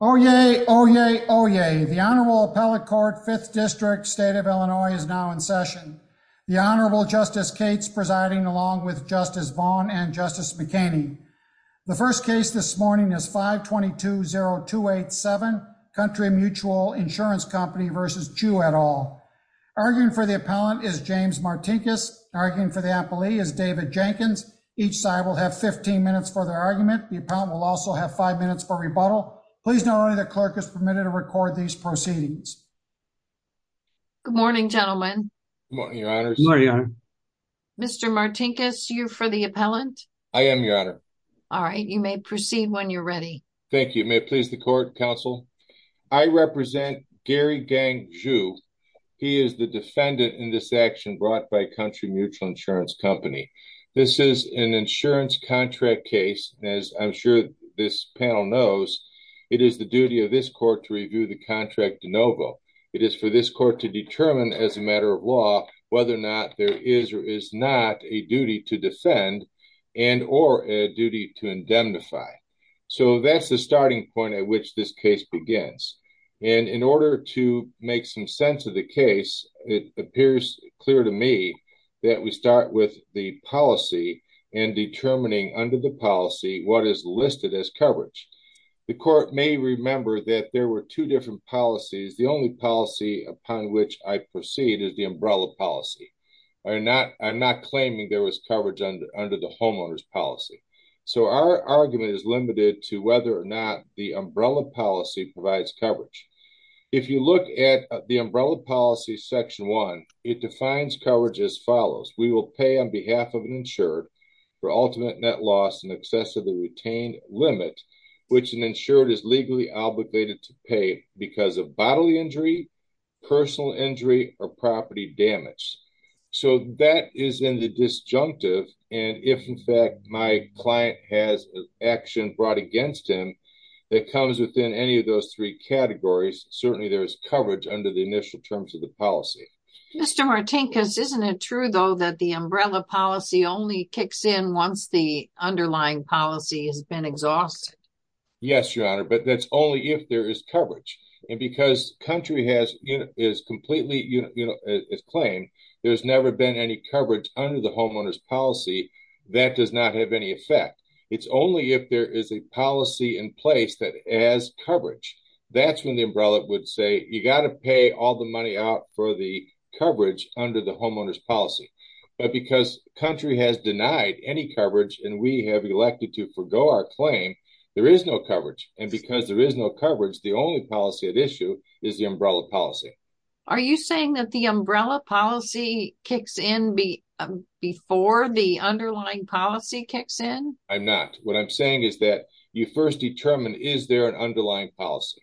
Oyez, oyez, oyez. The Honorable Appellate Court, 5th District, State of Illinois is now in session. The Honorable Justice Cates presiding along with Justice Vaughn and Justice McKinney. The first case this morning is 522-0287, Country Mutual Insurance Company v. Xu et al. Arguing for the appellant is James Martinkus. Arguing for the appellee is David Jenkins. Each side will have 15 minutes for their argument. The appellant will also have 5 minutes for their argument. The clerk is permitted to record these proceedings. Good morning, gentlemen. Good morning, Your Honor. Good morning, Your Honor. Mr. Martinkus, you're for the appellant? I am, Your Honor. All right. You may proceed when you're ready. Thank you. May it please the court, counsel. I represent Gary Gang Zhu. He is the defendant in this action brought by Country Mutual Insurance Company. This is an insurance contract case. As I'm sure this panel knows, it is the duty of this court to review the contract de novo. It is for this court to determine as a matter of law whether or not there is or is not a duty to defend and or a duty to indemnify. So that's the starting point at which this case begins. And in order to make some sense of the case, it appears clear to me that we start with the policy and determining under the policy what is listed as coverage. The court may remember that there were two different policies. The only policy upon which I proceed is the umbrella policy. I'm not claiming there was coverage under the homeowner's policy. So our argument is limited to whether or not the umbrella policy provides coverage. If you look at the umbrella policy section one, it defines coverage as follows. We will pay on behalf of an insured for ultimate net loss in excess of the retained limit, which an insured is legally obligated to pay because of bodily injury, personal injury, or property damage. So that is in the disjunctive. And if in fact my client has action brought against him, that comes within any of those three categories, certainly there is coverage under the initial terms of the policy. Mr. Martinkus, isn't it true though that the umbrella policy only kicks in once the underlying policy has been exhausted? Yes, your honor, but that's only if there is coverage. And because country has is completely, you know, it's claimed there's never been any coverage under the homeowner's policy, that does not have any effect. It's only if there is a policy in place that has coverage. That's when the umbrella would say you got to pay all the money out for the coverage under the homeowner's policy. But because country has denied any coverage and we have elected to forego our claim, there is no coverage. And because there is no coverage, the only policy at issue is the umbrella policy. Are you saying that the umbrella policy kicks in before the underlying policy kicks in? I'm not. What I'm saying is that you first determine is there an underlying policy.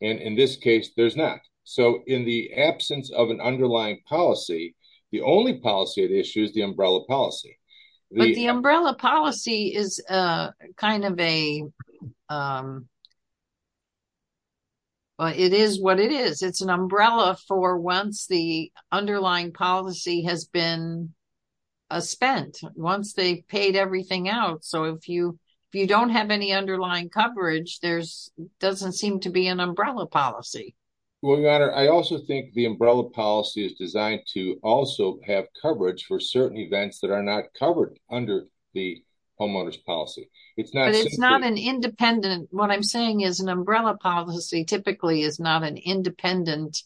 And in this case, there's not. So in the absence of an underlying policy, the only policy at issue is the umbrella policy. But the umbrella policy is a kind of a policy that is designed to also have coverage for certain events that are not covered under the homeowner's policy. But it's not an independent, what I'm saying is an umbrella policy typically is not an independent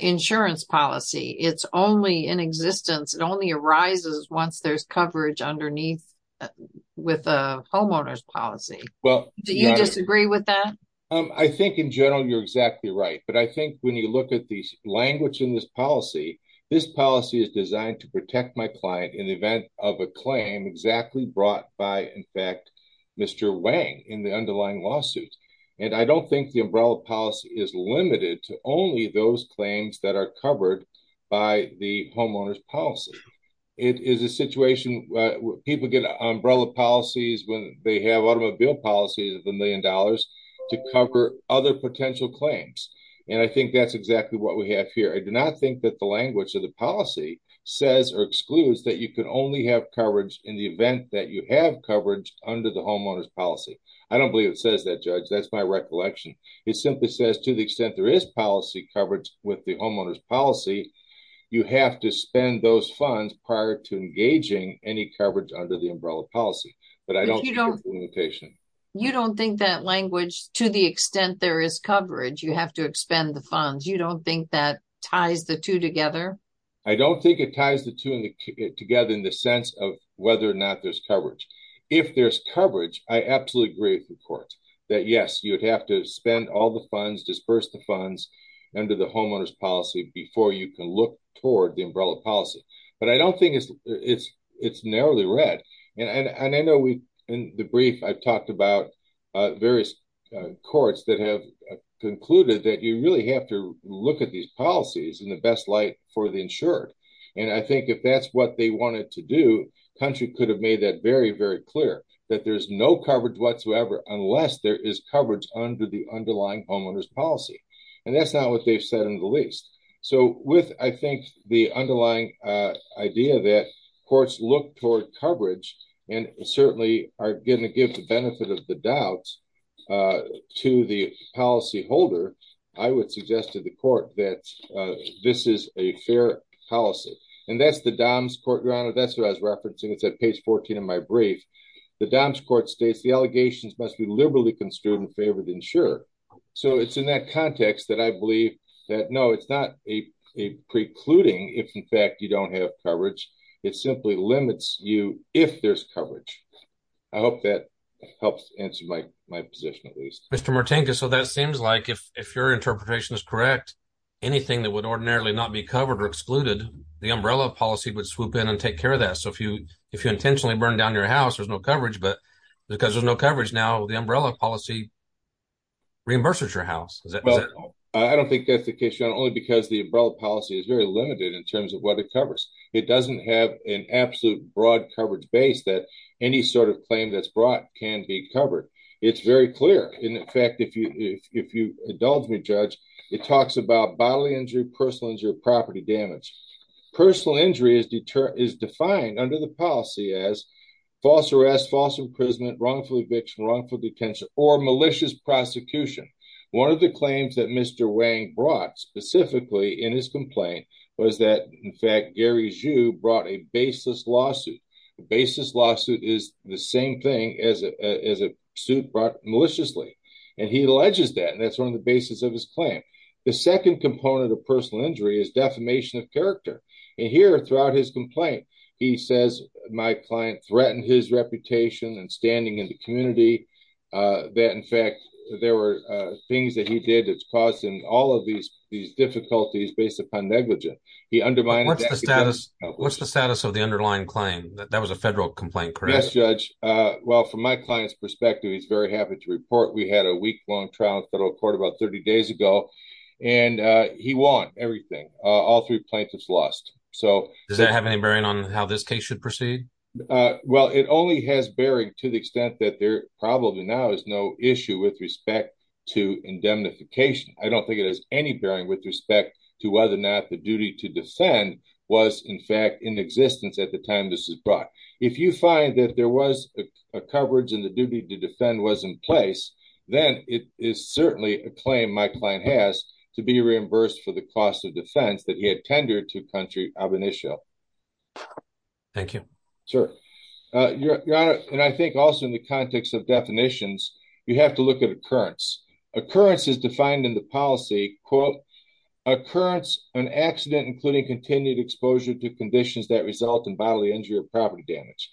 insurance policy. It's only in existence. It only arises once there's coverage underneath with a homeowner's policy. Do you disagree with that? I think in general, you're exactly right. But I think when you look at the language in this policy, this policy is designed to protect my client in the event of a claim exactly brought by, in fact, Mr. Wang in underlying lawsuit. And I don't think the umbrella policy is limited to only those claims that are covered by the homeowner's policy. It is a situation where people get umbrella policies when they have automobile policies of a million dollars to cover other potential claims. And I think that's exactly what we have here. I do not think that the language of the policy says or excludes that you can only have coverage in the event that you have coverage under the homeowner's I don't believe it says that, Judge. That's my recollection. It simply says to the extent there is policy coverage with the homeowner's policy, you have to spend those funds prior to engaging any coverage under the umbrella policy. But I don't think you don't think that language to the extent there is coverage, you have to expend the funds. You don't think that ties the two together? I don't think it ties the two together in the sense of whether or not there's coverage. If there's coverage, I absolutely agree with the court that, yes, you would have to spend all the funds, disperse the funds under the homeowner's policy before you can look toward the umbrella policy. But I don't think it's narrowly read. And I know in the brief I've talked about various courts that have concluded that you really have to look at these policies in the best light for the insured. And I think if that's what they wanted to do, country could have made that very, very clear that there's no coverage whatsoever unless there is coverage under the underlying homeowner's policy. And that's not what they've said in the least. So with I think the underlying idea that courts look toward coverage, and certainly are going to give the benefit of the doubt to the policyholder, I would suggest to the court that this is a fair policy. And that's the DOMS court, Your Honor. That's what I was referencing. It's at page 14 of my brief. The DOMS court states the allegations must be liberally construed in favor of the insurer. So it's in that context that I believe that, no, it's not a precluding if in fact you don't have coverage. I hope that helps answer my position at least. Mr. Martinkus, so that seems like if your interpretation is correct, anything that would ordinarily not be covered or excluded, the umbrella policy would swoop in and take care of that. So if you intentionally burn down your house, there's no coverage. But because there's no coverage now, the umbrella policy reimburses your house. I don't think that's the case, Your Honor, only because the umbrella policy is very sort of claim that's brought can be covered. It's very clear. In fact, if you indulge me, Judge, it talks about bodily injury, personal injury, property damage. Personal injury is defined under the policy as false arrest, false imprisonment, wrongful eviction, wrongful detention, or malicious prosecution. One of the claims that Mr. Wang brought specifically in his complaint was that, in fact, Gary Zhu brought a baseless lawsuit. The baseless lawsuit is the same thing as a suit brought maliciously. And he alleges that. And that's one of the basis of his claim. The second component of personal injury is defamation of character. And here throughout his complaint, he says, my client threatened his reputation and standing in the community that, in fact, there were things that he did that's caused him all of these difficulties based upon negligence. He undermined- What's the status of the underlying claim? That was a federal complaint, correct? Yes, Judge. Well, from my client's perspective, he's very happy to report we had a week-long trial in federal court about 30 days ago. And he won everything. All three plaintiffs lost. Does that have any bearing on how this case should proceed? Well, it only has bearing to the extent that there probably now is no issue with respect to indemnification. I don't think it has any bearing with respect to whether or not the duty to defend was, in fact, in existence at the time this is brought. If you find that there was a coverage and the duty to defend was in place, then it is certainly a claim my client has to be reimbursed for the cost of defense that he had tendered to country of initial. Thank you. Sure. Your Honor, and I think also in the context of definitions, you have to look at occurrence. Occurrence is defined in the policy, quote, occurrence, an accident including continued exposure to conditions that result in bodily injury or property damage.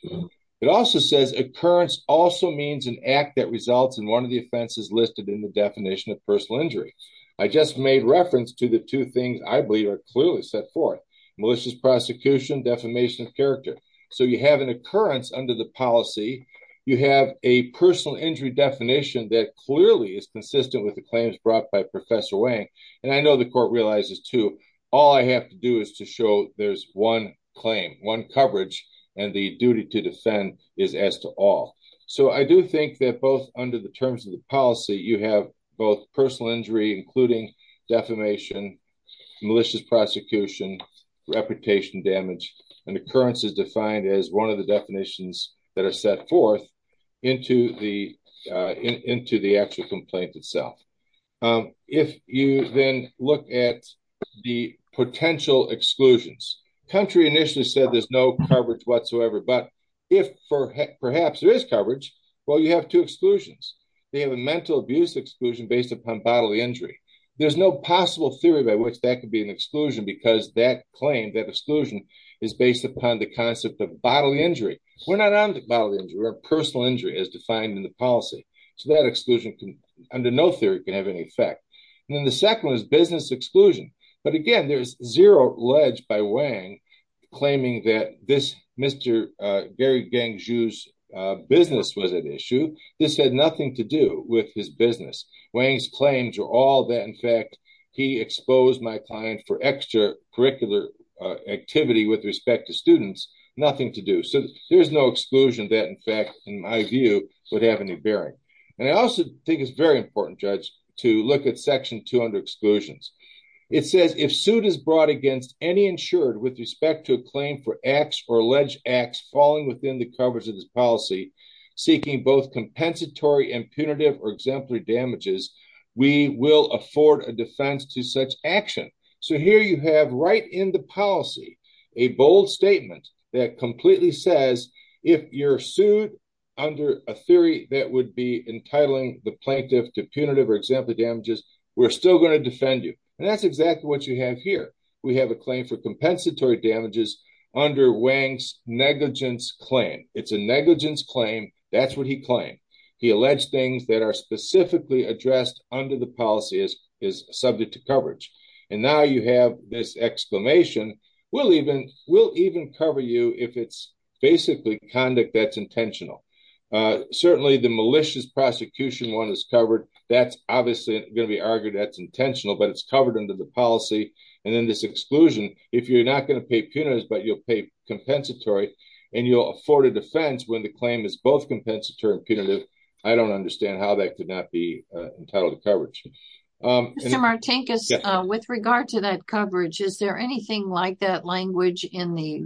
It also says occurrence also means an act that results in one of the offenses listed in the definition of personal injury. I just made reference to the two things I believe are clearly set forth, malicious prosecution, defamation of character. So you have an occurrence under the policy. You have a personal injury definition that clearly is consistent with the claims brought by Professor Wang. And I know the court realizes too, all I have to do is to show there's one claim, one coverage, and the duty to defend is as to all. So I do think that both under the terms of the policy, you have both personal injury, including defamation, malicious prosecution, reputation damage, and occurrence is defined as one of the definitions that are set forth into the actual complaint itself. If you then look at the potential exclusions, country initially said there's no coverage whatsoever, but if perhaps there is coverage, well, you have two exclusions. They have a mental abuse exclusion based upon bodily injury. There's no possible theory by which that could be an exclusion because that claim, that exclusion is based upon the concept of bodily injury. We're not on the bodily injury, we're on personal injury as defined in the policy. So that exclusion can, under no theory, can have any effect. And then the second one is business exclusion. But again, there's zero alleged by Wang claiming that this Mr. Gary Geng Xu's business was at issue. This had nothing to all that, in fact, he exposed my client for extracurricular activity with respect to students, nothing to do. So there's no exclusion that, in fact, in my view, would have any bearing. And I also think it's very important, Judge, to look at section 200 exclusions. It says, if suit is brought against any insured with respect to a claim for acts or alleged acts falling within the coverage of this policy, seeking both compensatory and punitive or afford a defense to such action. So here you have right in the policy, a bold statement that completely says, if you're sued under a theory that would be entitling the plaintiff to punitive or exemplary damages, we're still going to defend you. And that's exactly what you have here. We have a claim for compensatory damages under Wang's negligence claim. It's a negligence claim. That's what he claimed. He alleged things that are specifically addressed under the policy is subject to coverage. And now you have this exclamation, we'll even cover you if it's basically conduct that's intentional. Certainly, the malicious prosecution one is covered. That's obviously going to be argued that's intentional, but it's covered under the policy. And then this exclusion, if you're not going to pay punitive, but you'll pay compensatory and you'll afford a defense when the claim is both compensatory and punitive. I don't understand how that could not be entitled to coverage. Mr. Martinkus, with regard to that coverage, is there anything like that language in the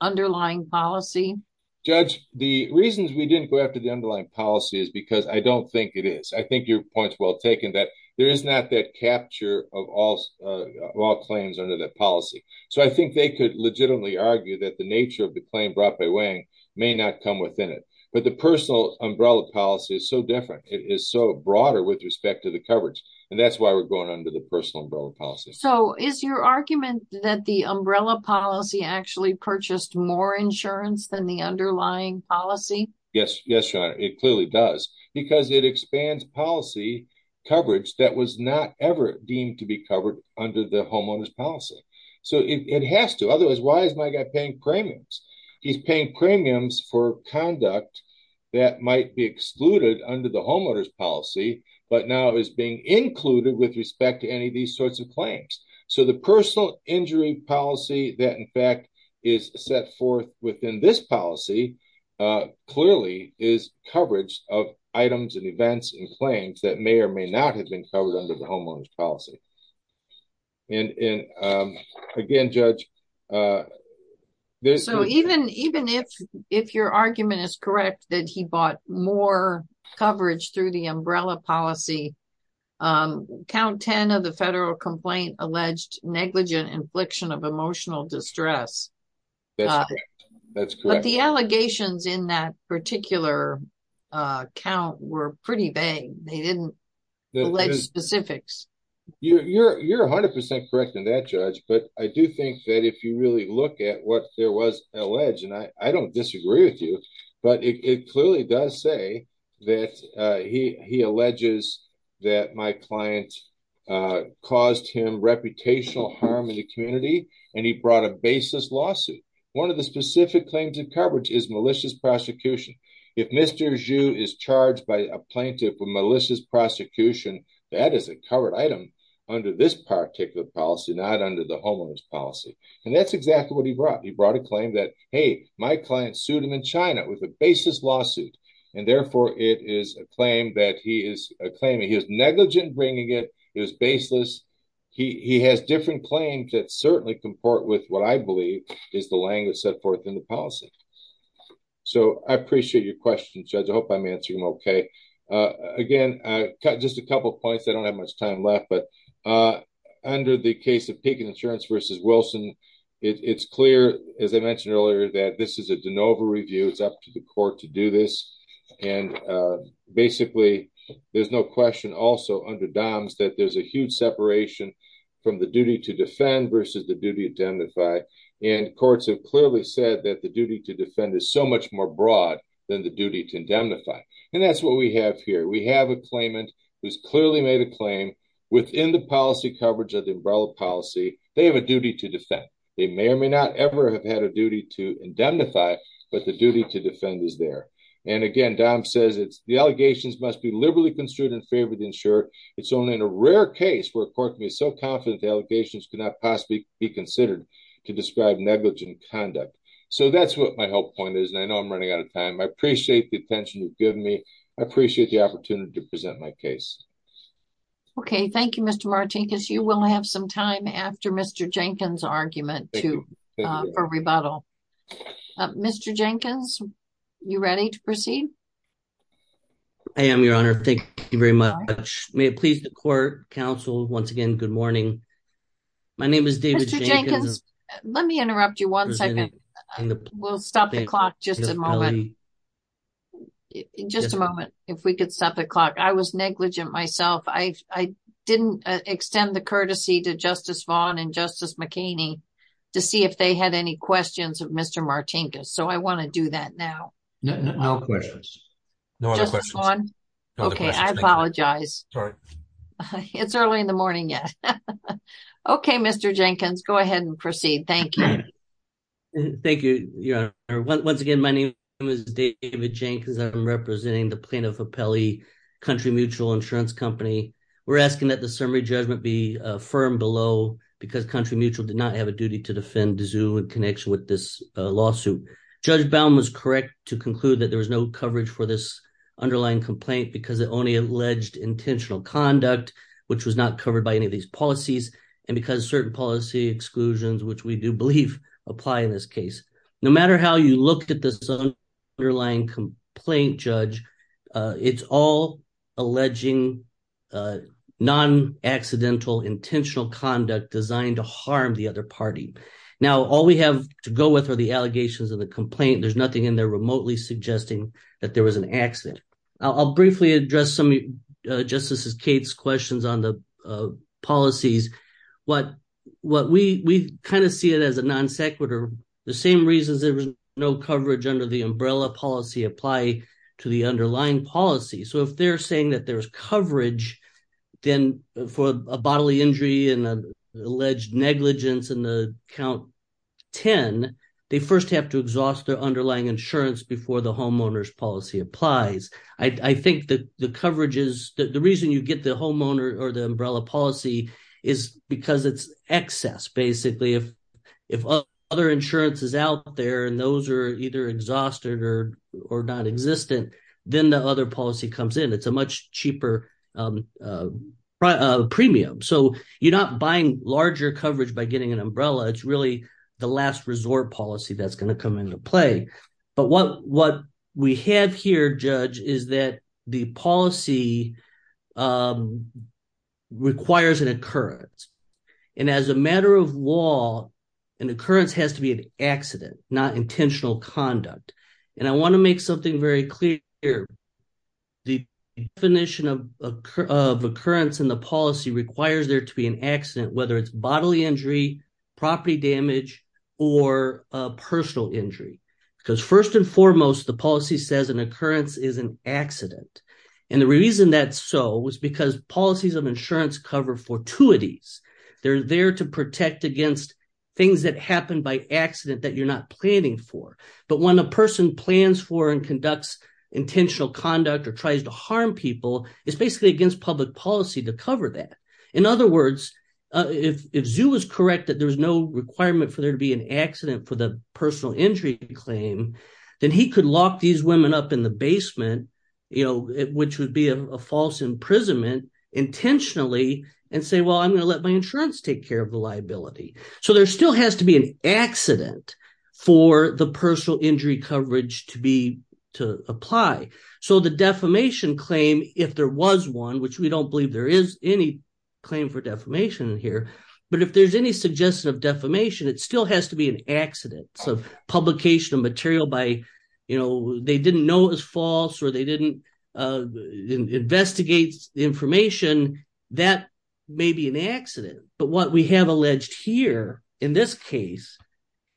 underlying policy? Judge, the reasons we didn't go after the underlying policy is because I don't think it is. I think your point's well taken that there is not that capture of all claims under that policy. So I think they could legitimately argue that the nature of the claim brought by but the personal umbrella policy is so different. It is so broader with respect to the coverage. And that's why we're going under the personal umbrella policy. So is your argument that the umbrella policy actually purchased more insurance than the underlying policy? Yes. Yes. It clearly does because it expands policy coverage that was not ever deemed to be covered under the homeowner's policy. So it has to. Otherwise, why is my guy paying premiums? He's paying premiums for conduct that might be excluded under the homeowner's policy, but now is being included with respect to any of these sorts of claims. So the personal injury policy that, in fact, is set forth within this policy clearly is coverage of items and events and claims that may or may not have been covered under the homeowner's policy. And again, Judge. So even if your argument is correct that he bought more coverage through the umbrella policy, count 10 of the federal complaint alleged negligent infliction of emotional distress. That's correct. But the allegations in that particular count were pretty vague. They didn't look at what there was alleged. And I don't disagree with you, but it clearly does say that he alleges that my client caused him reputational harm in the community and he brought a baseless lawsuit. One of the specific claims of coverage is malicious prosecution. If Mr. Zhu is charged by a plaintiff with malicious prosecution, that is a covered item under this particular policy, not under the homeowner's policy. And that's exactly what he brought. He brought a claim that, hey, my client sued him in China with a baseless lawsuit. And therefore, it is a claim that he is claiming he is negligent bringing it is baseless. He has different claims that certainly comport with what I believe is the language set forth in the policy. So I appreciate your question, Judge. I hope I'm answering him okay. Again, just a couple points. I don't have much time left. But under the case of Pekin Insurance versus Wilson, it's clear, as I mentioned earlier, that this is a de novo review. It's up to the court to do this. And basically, there's no question also under DOMS that there's a huge separation from the duty to defend versus the duty to indemnify. And courts have clearly said that the duty to defend is so much more broad than the duty to indemnify. And that's what we have here. We have a claimant who's clearly made a claim within the policy coverage of the umbrella policy. They have a duty to defend. They may or may not ever have had a duty to indemnify, but the duty to defend is there. And again, DOMS says it's the allegations must be liberally construed in favor of the insured. It's only in a rare case where a court can be so confident the allegations could not possibly be considered to describe negligent conduct. So that's what my whole point is. And I present my case. Okay, thank you, Mr. Martinkus. You will have some time after Mr. Jenkins' argument for rebuttal. Mr. Jenkins, you ready to proceed? I am, Your Honor. Thank you very much. May it please the court, counsel, once again, good morning. My name is David Jenkins. Let me interrupt you one second. We'll stop the clock just a moment. Just a moment. If we could stop the clock. I was negligent myself. I didn't extend the courtesy to Justice Vaughn and Justice McKinney to see if they had any questions of Mr. Martinkus. So I want to do that now. No questions. No other questions. Okay, I apologize. Sorry. It's early in the morning yet. Okay, Mr. Jenkins, go ahead and proceed. Thank you. Thank you, Your Honor. Once again, my name is David Jenkins. I'm representing the plaintiff appellee, Country Mutual Insurance Company. We're asking that the summary judgment be affirmed below because Country Mutual did not have a duty to defend D'Souza in connection with this lawsuit. Judge Baum was correct to conclude that there was no coverage for this underlying complaint because it only alleged intentional conduct, which was not covered by any of these policies, and because certain policy exclusions, which we do believe apply in this case. No matter how you look at this underlying complaint, Judge, it's all alleging non-accidental intentional conduct designed to harm the other party. Now, all we have to go with are the allegations of the complaint. There's nothing in there remotely suggesting that there was an accident. I'll briefly address Justice Kate's questions on the policies. We kind of see it as a non-sequitur. The same reasons there was no coverage under the umbrella policy apply to the underlying policy. So, if they're saying that there's coverage, then for a bodily injury and an alleged negligence in the count 10, they first have to exhaust their underlying insurance before the homeowner's policy applies. I think the coverage is, the reason you get the homeowner or the umbrella policy is because it's excess, basically. If other insurance is out there and those are either exhausted or not existent, then the other policy comes in. It's a much cheaper premium. So, you're not buying larger coverage by getting an umbrella. It's really the last resort policy that's going to come into play. But what we have here, Judge, is that the policy requires an occurrence. And as a matter of law, an occurrence has to be an accident, not intentional conduct. And I want to make something very clear here. The definition of occurrence in the policy requires there to be an accident, whether it's bodily injury, property damage, or a personal injury. Because first and foremost, the policy says an occurrence is an accident. And the reason that's so is because policies of insurance cover fortuities. They're there to protect against things that happen by accident that you're not planning for. But when a person plans for and conducts intentional conduct or tries to harm people, it's basically against public policy to cover that. In other words, if Zu was correct that there was no requirement for there to be an accident for the personal injury claim, then he could lock these women up in the basement, which would be a false imprisonment, intentionally and say, well, I'm going to let my insurance take care of the liability. So there still has to be an accident for the personal injury coverage to apply. So the defamation claim, if there was one, which we don't believe there is any claim for defamation here, but if there's any suggestion of defamation, it still has to be an accident. So publication of you know, they didn't know it was false or they didn't investigate the information, that may be an accident. But what we have alleged here in this case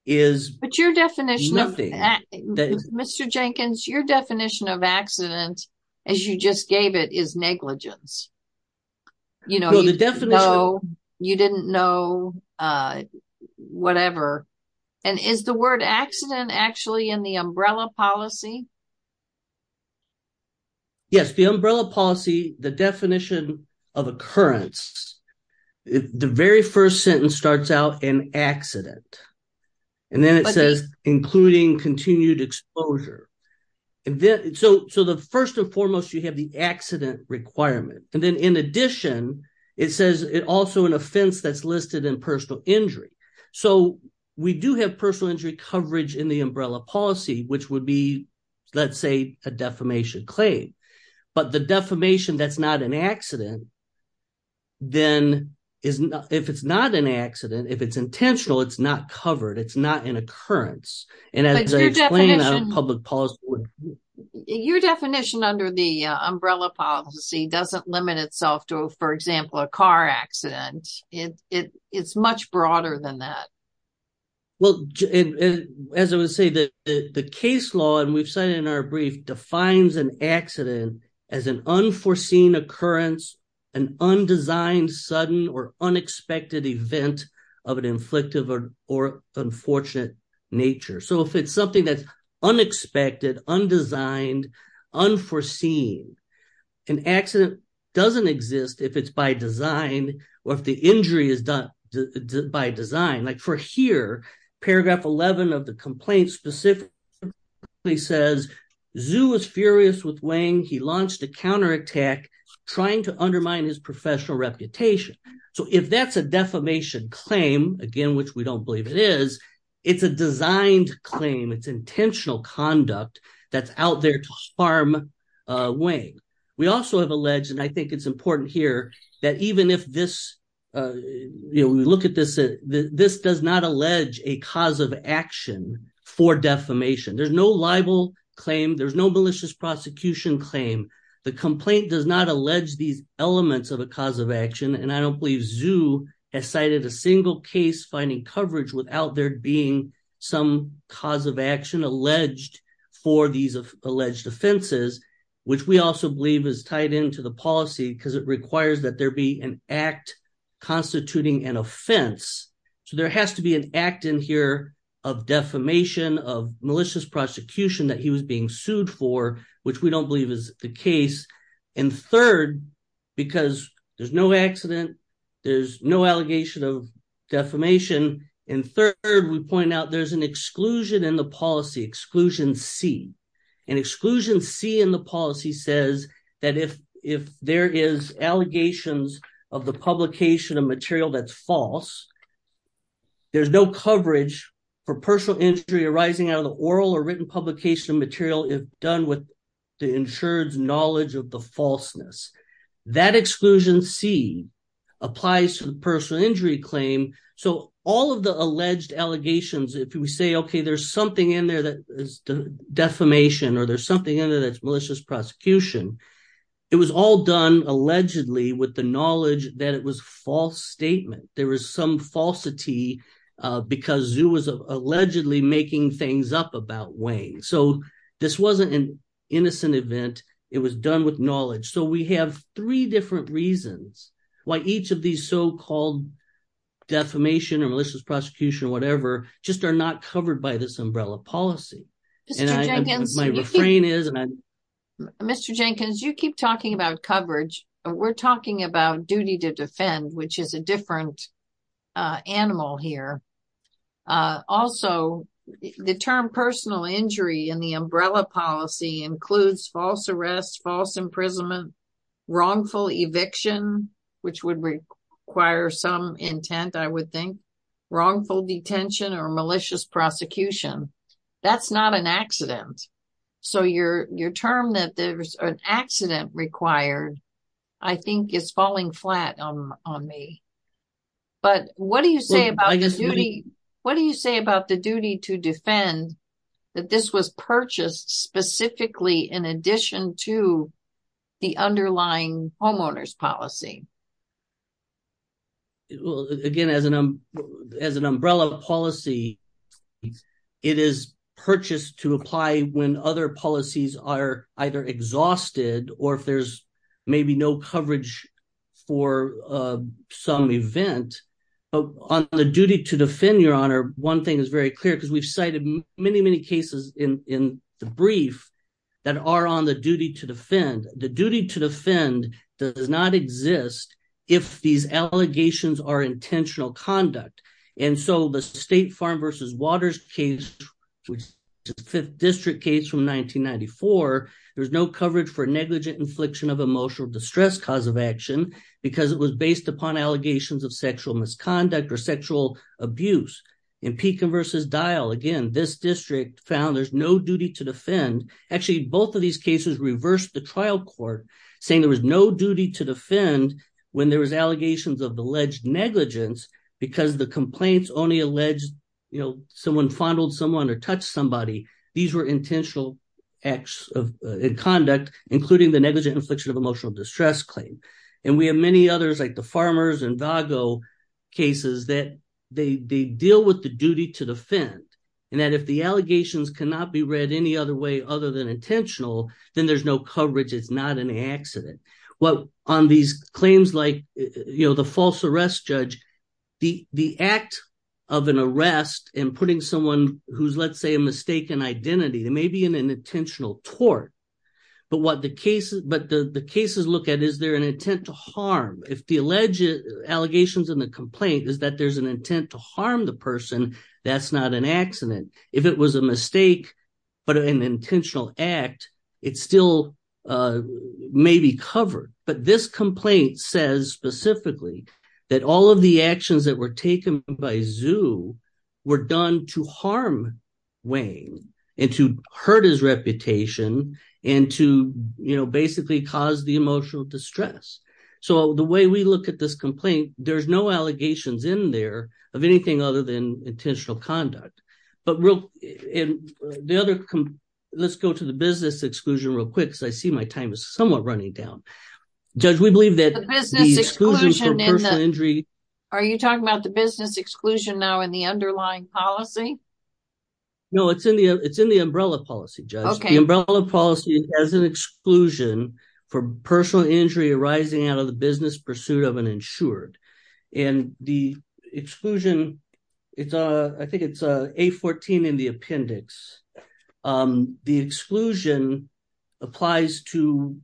is nothing. Mr. Jenkins, your definition of accident, as you just gave it, is negligence. You know, you didn't know, whatever. And is the word accident actually in the umbrella policy? Yes, the umbrella policy, the definition of occurrence, the very first sentence starts out an accident. And then it says, including continued exposure. So the first and foremost, you have the accident requirement. And then in addition, it says it also an offense that's listed in personal injury. So we do have personal injury coverage in the umbrella policy, which would be, let's say, a defamation claim. But the defamation, that's not an accident. Then if it's not an accident, if it's intentional, it's not covered, it's not an occurrence. And as a public policy, your definition under the umbrella policy doesn't limit itself to, for example, a car accident. It's much broader than that. Well, as I would say that the case law, and we've said in our brief, defines an accident as an unforeseen occurrence, an undesigned, sudden or unexpected event of an inflictive or unfortunate nature. So if it's something that's unexpected, undesigned, unforeseen, an accident doesn't exist if it's by design or if the injury is done by design. Like for here, paragraph 11 of the complaint specifically says, Zhu is furious with Wang. He launched a counter attack trying to undermine his professional reputation. So if that's a defamation claim, again, which we don't believe it is, it's a designed claim. It's intentional conduct that's out there to harm Wang. We also have alleged, and I think it's important here, that even if this, you know, we look at this, this does not allege a cause of action for defamation. There's no libel claim. There's no malicious prosecution claim. The complaint does not allege these elements of a cause of action, and I don't believe Zhu has cited a single case finding coverage without there being some cause of action alleged for these alleged offenses, which we also believe is tied into the policy because it requires that there be an act constituting an offense. So there has to be an act in here of defamation, of malicious prosecution that he was being sued for, which we don't believe is the case. And third, because there's no accident, there's no allegation of defamation. And third, we point out there's an exclusion in the policy, exclusion C. And exclusion C in the policy says that if there is allegations of the publication of material that's false, there's no coverage for personal injury arising out of the oral or written publication of material if done with the insured's knowledge of the falseness. That exclusion C applies to the personal injury claim. So all of the alleged allegations, if we say, okay, there's something in there that is defamation, or there's something in there that's malicious prosecution, it was all done allegedly with the knowledge that it was about Wayne. So this wasn't an innocent event. It was done with knowledge. So we have three different reasons why each of these so-called defamation or malicious prosecution or whatever just are not covered by this umbrella policy. And my refrain is- Mr. Jenkins, you keep talking about coverage. We're talking about duty to defend, which is a different animal here. Also, the term personal injury in the umbrella policy includes false arrest, false imprisonment, wrongful eviction, which would require some intent, I would think, wrongful detention, or malicious prosecution. That's not an accident. So your term that there's an accident required, I think it's falling flat on me. But what do you say about the duty to defend that this was purchased specifically in addition to the underlying homeowners policy? Well, again, as an umbrella policy, it is purchased to apply when other policies are either exhausted, or if there's maybe no coverage for some event. But on the duty to defend, Your Honor, one thing is very clear, because we've cited many, many cases in the brief that are on the duty to defend. The duty to defend does not exist if these allegations are intentional conduct. And so the State Farm v. Waters case, which is the 5th District case from 1994, there was no coverage for negligent infliction of emotional distress cause of action, because it was based upon allegations of sexual misconduct or sexual abuse. In Pekin v. Dial, again, this district found there's no duty to defend. Actually, both of these cases reversed the trial court, saying there was no duty to defend when there was allegations of alleged negligence, because the complaints only alleged someone fondled someone or touched somebody. These were intentional acts of conduct, including the negligent infliction of emotional distress claim. And we have many others like the Farmers v. Vago cases that they deal with the duty to defend. And that if the allegations cannot be read any other way other than intentional, then there's no coverage. It's not an accident. Well, on these claims like, you know, the false arrest judge, the act of an arrest and putting someone who's, let's say, a mistaken identity, they may be in an intentional tort. But what the cases look at is, is there an intent to harm? If the alleged allegations in the complaint is that there's an intent to harm the person, that's not an accident. If it was a mistake, but an intentional act, it still may be covered. But this complaint says specifically that all of the actions that were taken by Zhu were done to harm Wayne and to hurt his reputation and to, you know, basically cause the emotional distress. So the way we look at this complaint, there's no allegations in there of anything other than intentional conduct. But we'll, and the other, let's go to the business exclusion real quick, because I see my time is somewhat running down. Judge, we believe that the exclusion for personal injury. Are you talking about the business exclusion now in the underlying policy? No, it's in the, it's in the umbrella policy, Judge. The umbrella policy has an exclusion for personal injury arising out of the business pursuit of an insured. And the exclusion, it's a, I think it's a A14 in the appendix. The exclusion applies to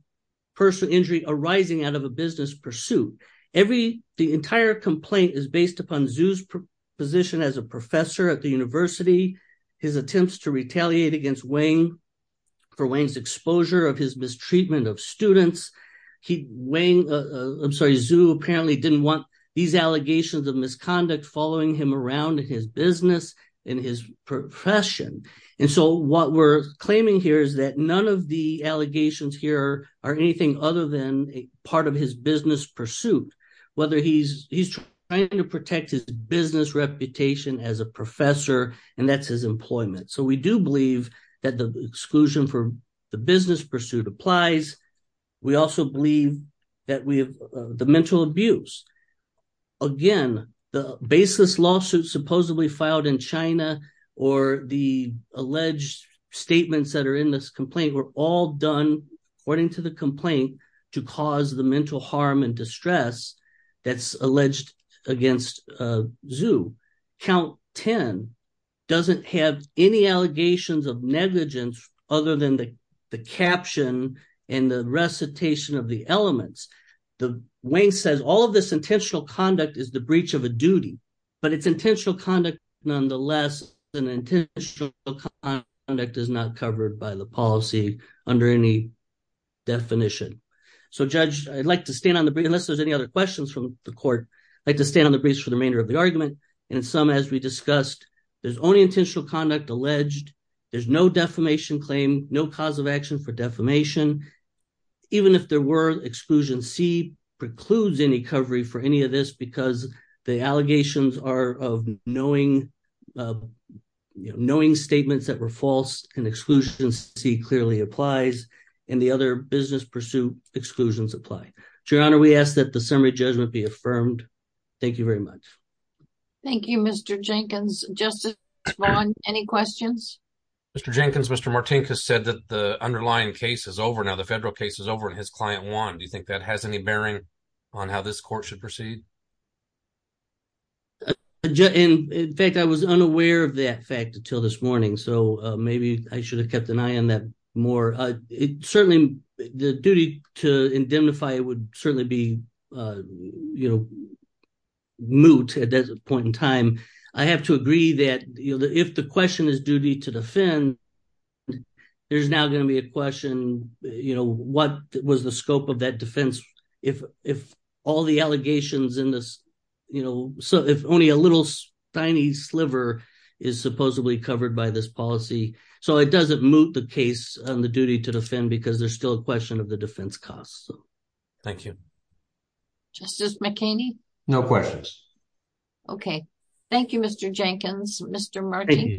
personal injury arising out of a business pursuit. Every, the entire complaint is based upon Zhu's position as a professor at the university, his attempts to retaliate against Wayne, for Wayne's exposure of his mistreatment of students. He, Wayne, I'm sorry, Zhu apparently didn't want these allegations of misconduct following him around in his business, in his profession. And so what we're claiming here is that none of the allegations here are anything other than a part of his business pursuit, whether he's, he's trying to protect his business reputation as a professor and that's his employment. So we do believe that the exclusion for business pursuit applies. We also believe that we have the mental abuse. Again, the baseless lawsuits supposedly filed in China or the alleged statements that are in this complaint were all done according to the complaint to cause the mental harm and distress that's alleged against Zhu. Count 10 doesn't have any allegations of negligence other than the, the caption and the recitation of the elements. The, Wayne says all of this intentional conduct is the breach of a duty, but it's intentional conduct. Nonetheless, an intentional conduct is not covered by the policy under any definition. So judge, I'd like to stand on the, unless there's any other questions from the court, I'd like to stand on the bridge for the remainder of the argument. And some, as we discussed, there's only intentional conduct alleged there's no defamation claim, no cause of action for defamation. Even if there were exclusion, see precludes any covery for any of this because the allegations are of knowing, uh, you know, knowing statements that were false and exclusions see clearly applies and the other business pursuit exclusions apply. Your honor, we ask that the summary judgment be affirmed. Thank you very much. Thank you, Mr. Jenkins. Just any questions, Mr. Jenkins, Mr. Martin has said that the underlying case is over. Now the federal case is over in his client one. Do you think that has any bearing on how this court should proceed? In fact, I was unaware of that fact until this morning. So maybe I should have kept an eye on that more. Uh, it certainly the duty to indemnify would certainly be, uh, you know, moot at that point in time. I have to agree that, you know, if the question is duty to defend, there's now going to be a question, you know, what was the scope of that defense? If, if all the allegations in this, you know, so if only a little tiny sliver is supposedly covered by this policy. So it doesn't move the case on the duty to defend because there's still a question of the defense costs. So thank you, just as McCain. No questions. Okay. Thank you, Mr. Jenkins, Mr. Martin.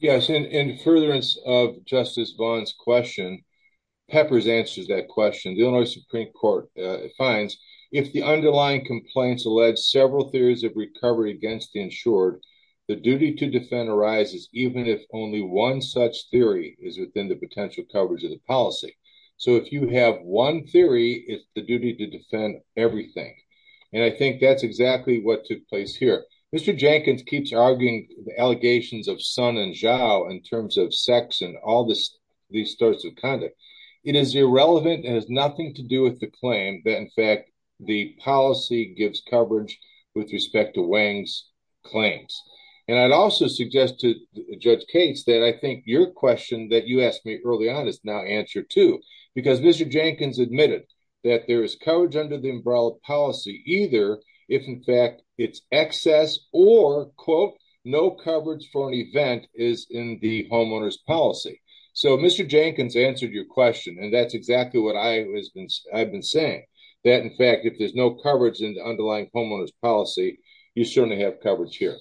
Yes. And furtherance of justice bonds question peppers answers that question. The Illinois Supreme court finds if the underlying complaints alleged several theories of recovery against the insured, the duty to defend arises, even if only one such theory is within the potential coverage of the policy. So if you have one theory, it's the duty to defend everything. And I think that's exactly what took place here. Mr. Jenkins keeps arguing the allegations of son and Joe in terms of sex and all this, these sorts of conduct, it is irrelevant and has nothing to do with the claim that in fact, the policy gives coverage with respect to Wang's claims. And I'd also suggest to judge case that I think your question that you asked me early on is now answered too, because Mr. Jenkins admitted that there is coverage under the umbrella policy, either if in fact it's excess or quote, no coverage for an event is in the homeowner's policy. So Mr. Jenkins answered your question. And that's exactly what I've been saying that in fact, if there's no coverage in the underlying homeowner's policy, you certainly have coverage here.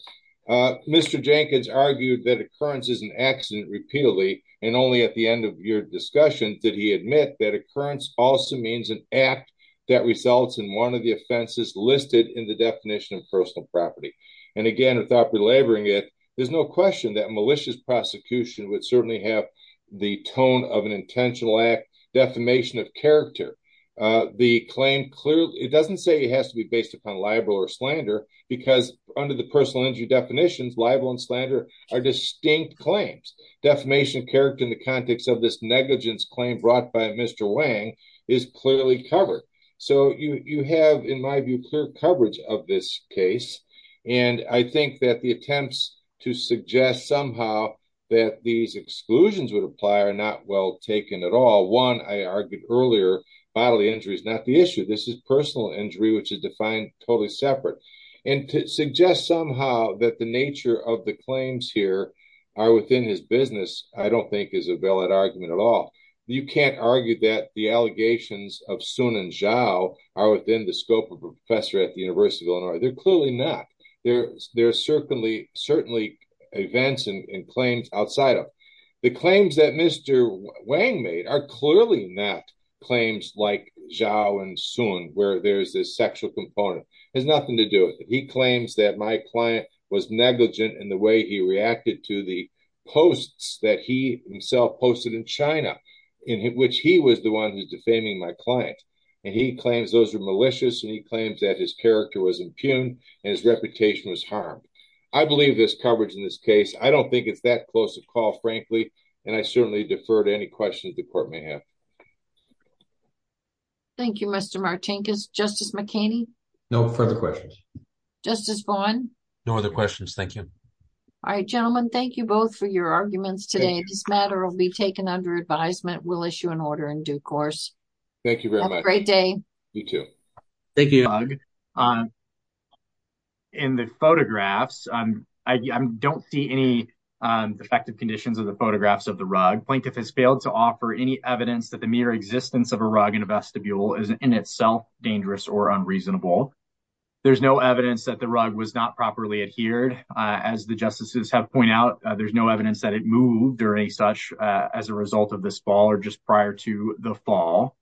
Mr. Jenkins argued that occurrence is an accident repeatedly, and only at the end of your discussion, did he admit that occurrence also means an act that results in one of the offenses listed in the definition of personal property. And again, without belaboring it, there's no question that malicious prosecution would certainly have the tone of an intentional act, defamation of character, the claim clearly, it doesn't say it has to be based upon libel or slander, because under the personal injury definitions, libel and slander are distinct claims. Defamation character in the context of this negligence claim brought by Mr. Wang is clearly covered. So you have, in my view, clear coverage of this case. And I think that the attempts to suggest somehow that these exclusions would apply are not well taken at all. One, I argued earlier, bodily injury is not the issue. This is personal injury, which is defined totally separate. And to suggest somehow that the nature of the claims here are within his business, I don't think is a valid argument at all. You can't argue that the allegations of Sunan Zhao are within the scope of a professor at the University of Illinois. They're clearly not. There are certainly events and claims outside of the claims that Mr. Wang made are clearly not claims like Zhao and Sunan, where there's this sexual component. It has nothing to do with it. He claims that my client was negligent in the way he reacted to the posts that he himself posted in China, in which he was the one who's defaming my client. And he claims those are malicious. And he was harmed. I believe this coverage in this case, I don't think it's that close a call, frankly. And I certainly defer to any questions the court may have. Thank you, Mr. Martinkus. Justice McKinney? No further questions. Justice Vaughn? No other questions. Thank you. All right, gentlemen, thank you both for your arguments today. This matter will be taken under advisement. We'll issue an order in due course. Thank you very much. Have a great day. You too. Thank you. In the photographs, I don't see any defective conditions of the photographs of the rug. Plaintiff has failed to offer any evidence that the mere existence of a rug in a vestibule is in itself dangerous or unreasonable. There's no evidence that the rug was not properly adhered. As the justices have pointed out, there's no evidence that it moved or any such as a result of this fall or just prior to the fall.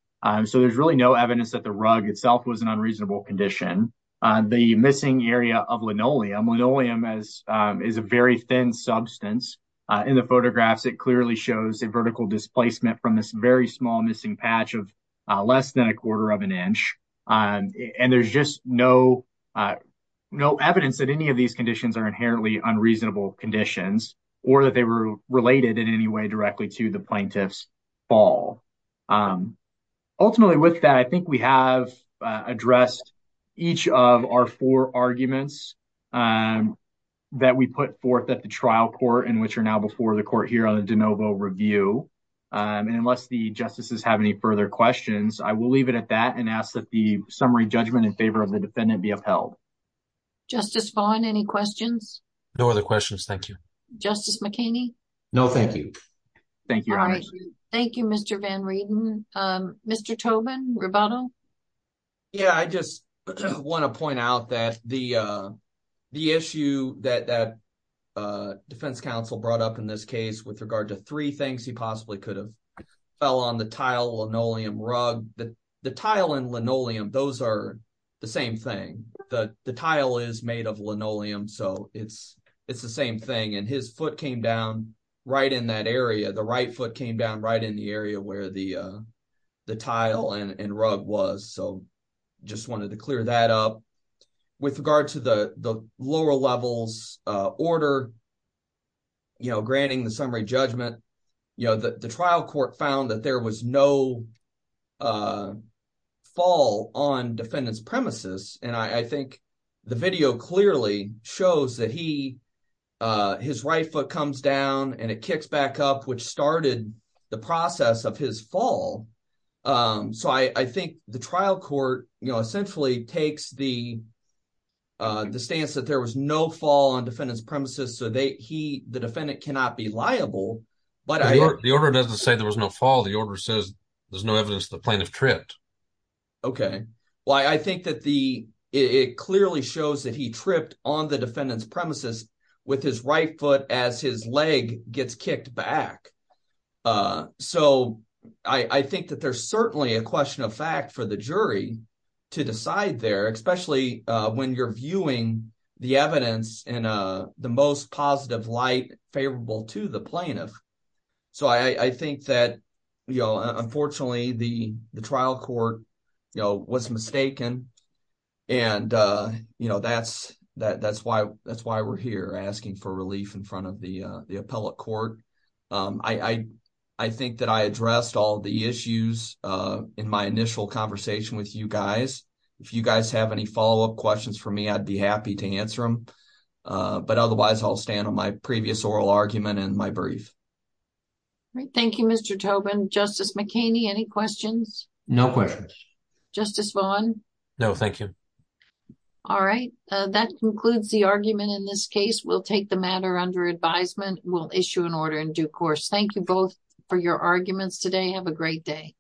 So there's really no evidence that the rug itself was an unreasonable condition. The missing area of linoleum, linoleum is a very thin substance. In the photographs, it clearly shows a vertical displacement from this very small missing patch of less than a quarter of an inch. And there's just no evidence that any of these conditions are fall. Ultimately with that, I think we have addressed each of our four arguments that we put forth at the trial court and which are now before the court here on the de novo review. And unless the justices have any further questions, I will leave it at that and ask that the summary judgment in favor of the defendant be upheld. Justice Vaughn, any questions? No other questions. Thank you. Justice McKinney? No, thank you. Thank you. Thank you, Mr. Van Reeden. Mr. Tobin, rebuttal? Yeah, I just want to point out that the issue that defense counsel brought up in this case with regard to three things he possibly could have fell on the tile linoleum rug, the tile and linoleum, those are the same thing. The tile is made of linoleum, so it's the same thing. And his foot came down right in that area. The right foot came down right in the area where the tile and rug was. So just wanted to clear that up. With regard to the lower levels order, granting the summary judgment, the trial court found that there was no fall on defendant's premises. And I think the video clearly shows that his right foot comes down and it kicks back up, which started the process of his fall. So I think the trial court essentially takes the stance that there was no fall on defendant's premises, so the defendant cannot be liable. But I... The order doesn't say there was no fall. The order says there's no evidence of the plaintiff tripped. Okay. Well, I think that it clearly shows that he tripped on the defendant's premises with his right foot as his leg gets kicked back. So I think that there's certainly a question of fact for the jury to decide there, especially when you're viewing the evidence in the most trial court, what's mistaken. And that's why we're here asking for relief in front of the appellate court. I think that I addressed all the issues in my initial conversation with you guys. If you guys have any follow-up questions for me, I'd be happy to answer them. But otherwise, I'll stand on my previous oral argument and my brief. All right. Thank you, Mr. Tobin. Justice McKinney, any questions? No questions. Justice Vaughn? No, thank you. All right. That concludes the argument in this case. We'll take the matter under advisement. We'll issue an order in due course. Thank you both for your arguments today. Have a great day.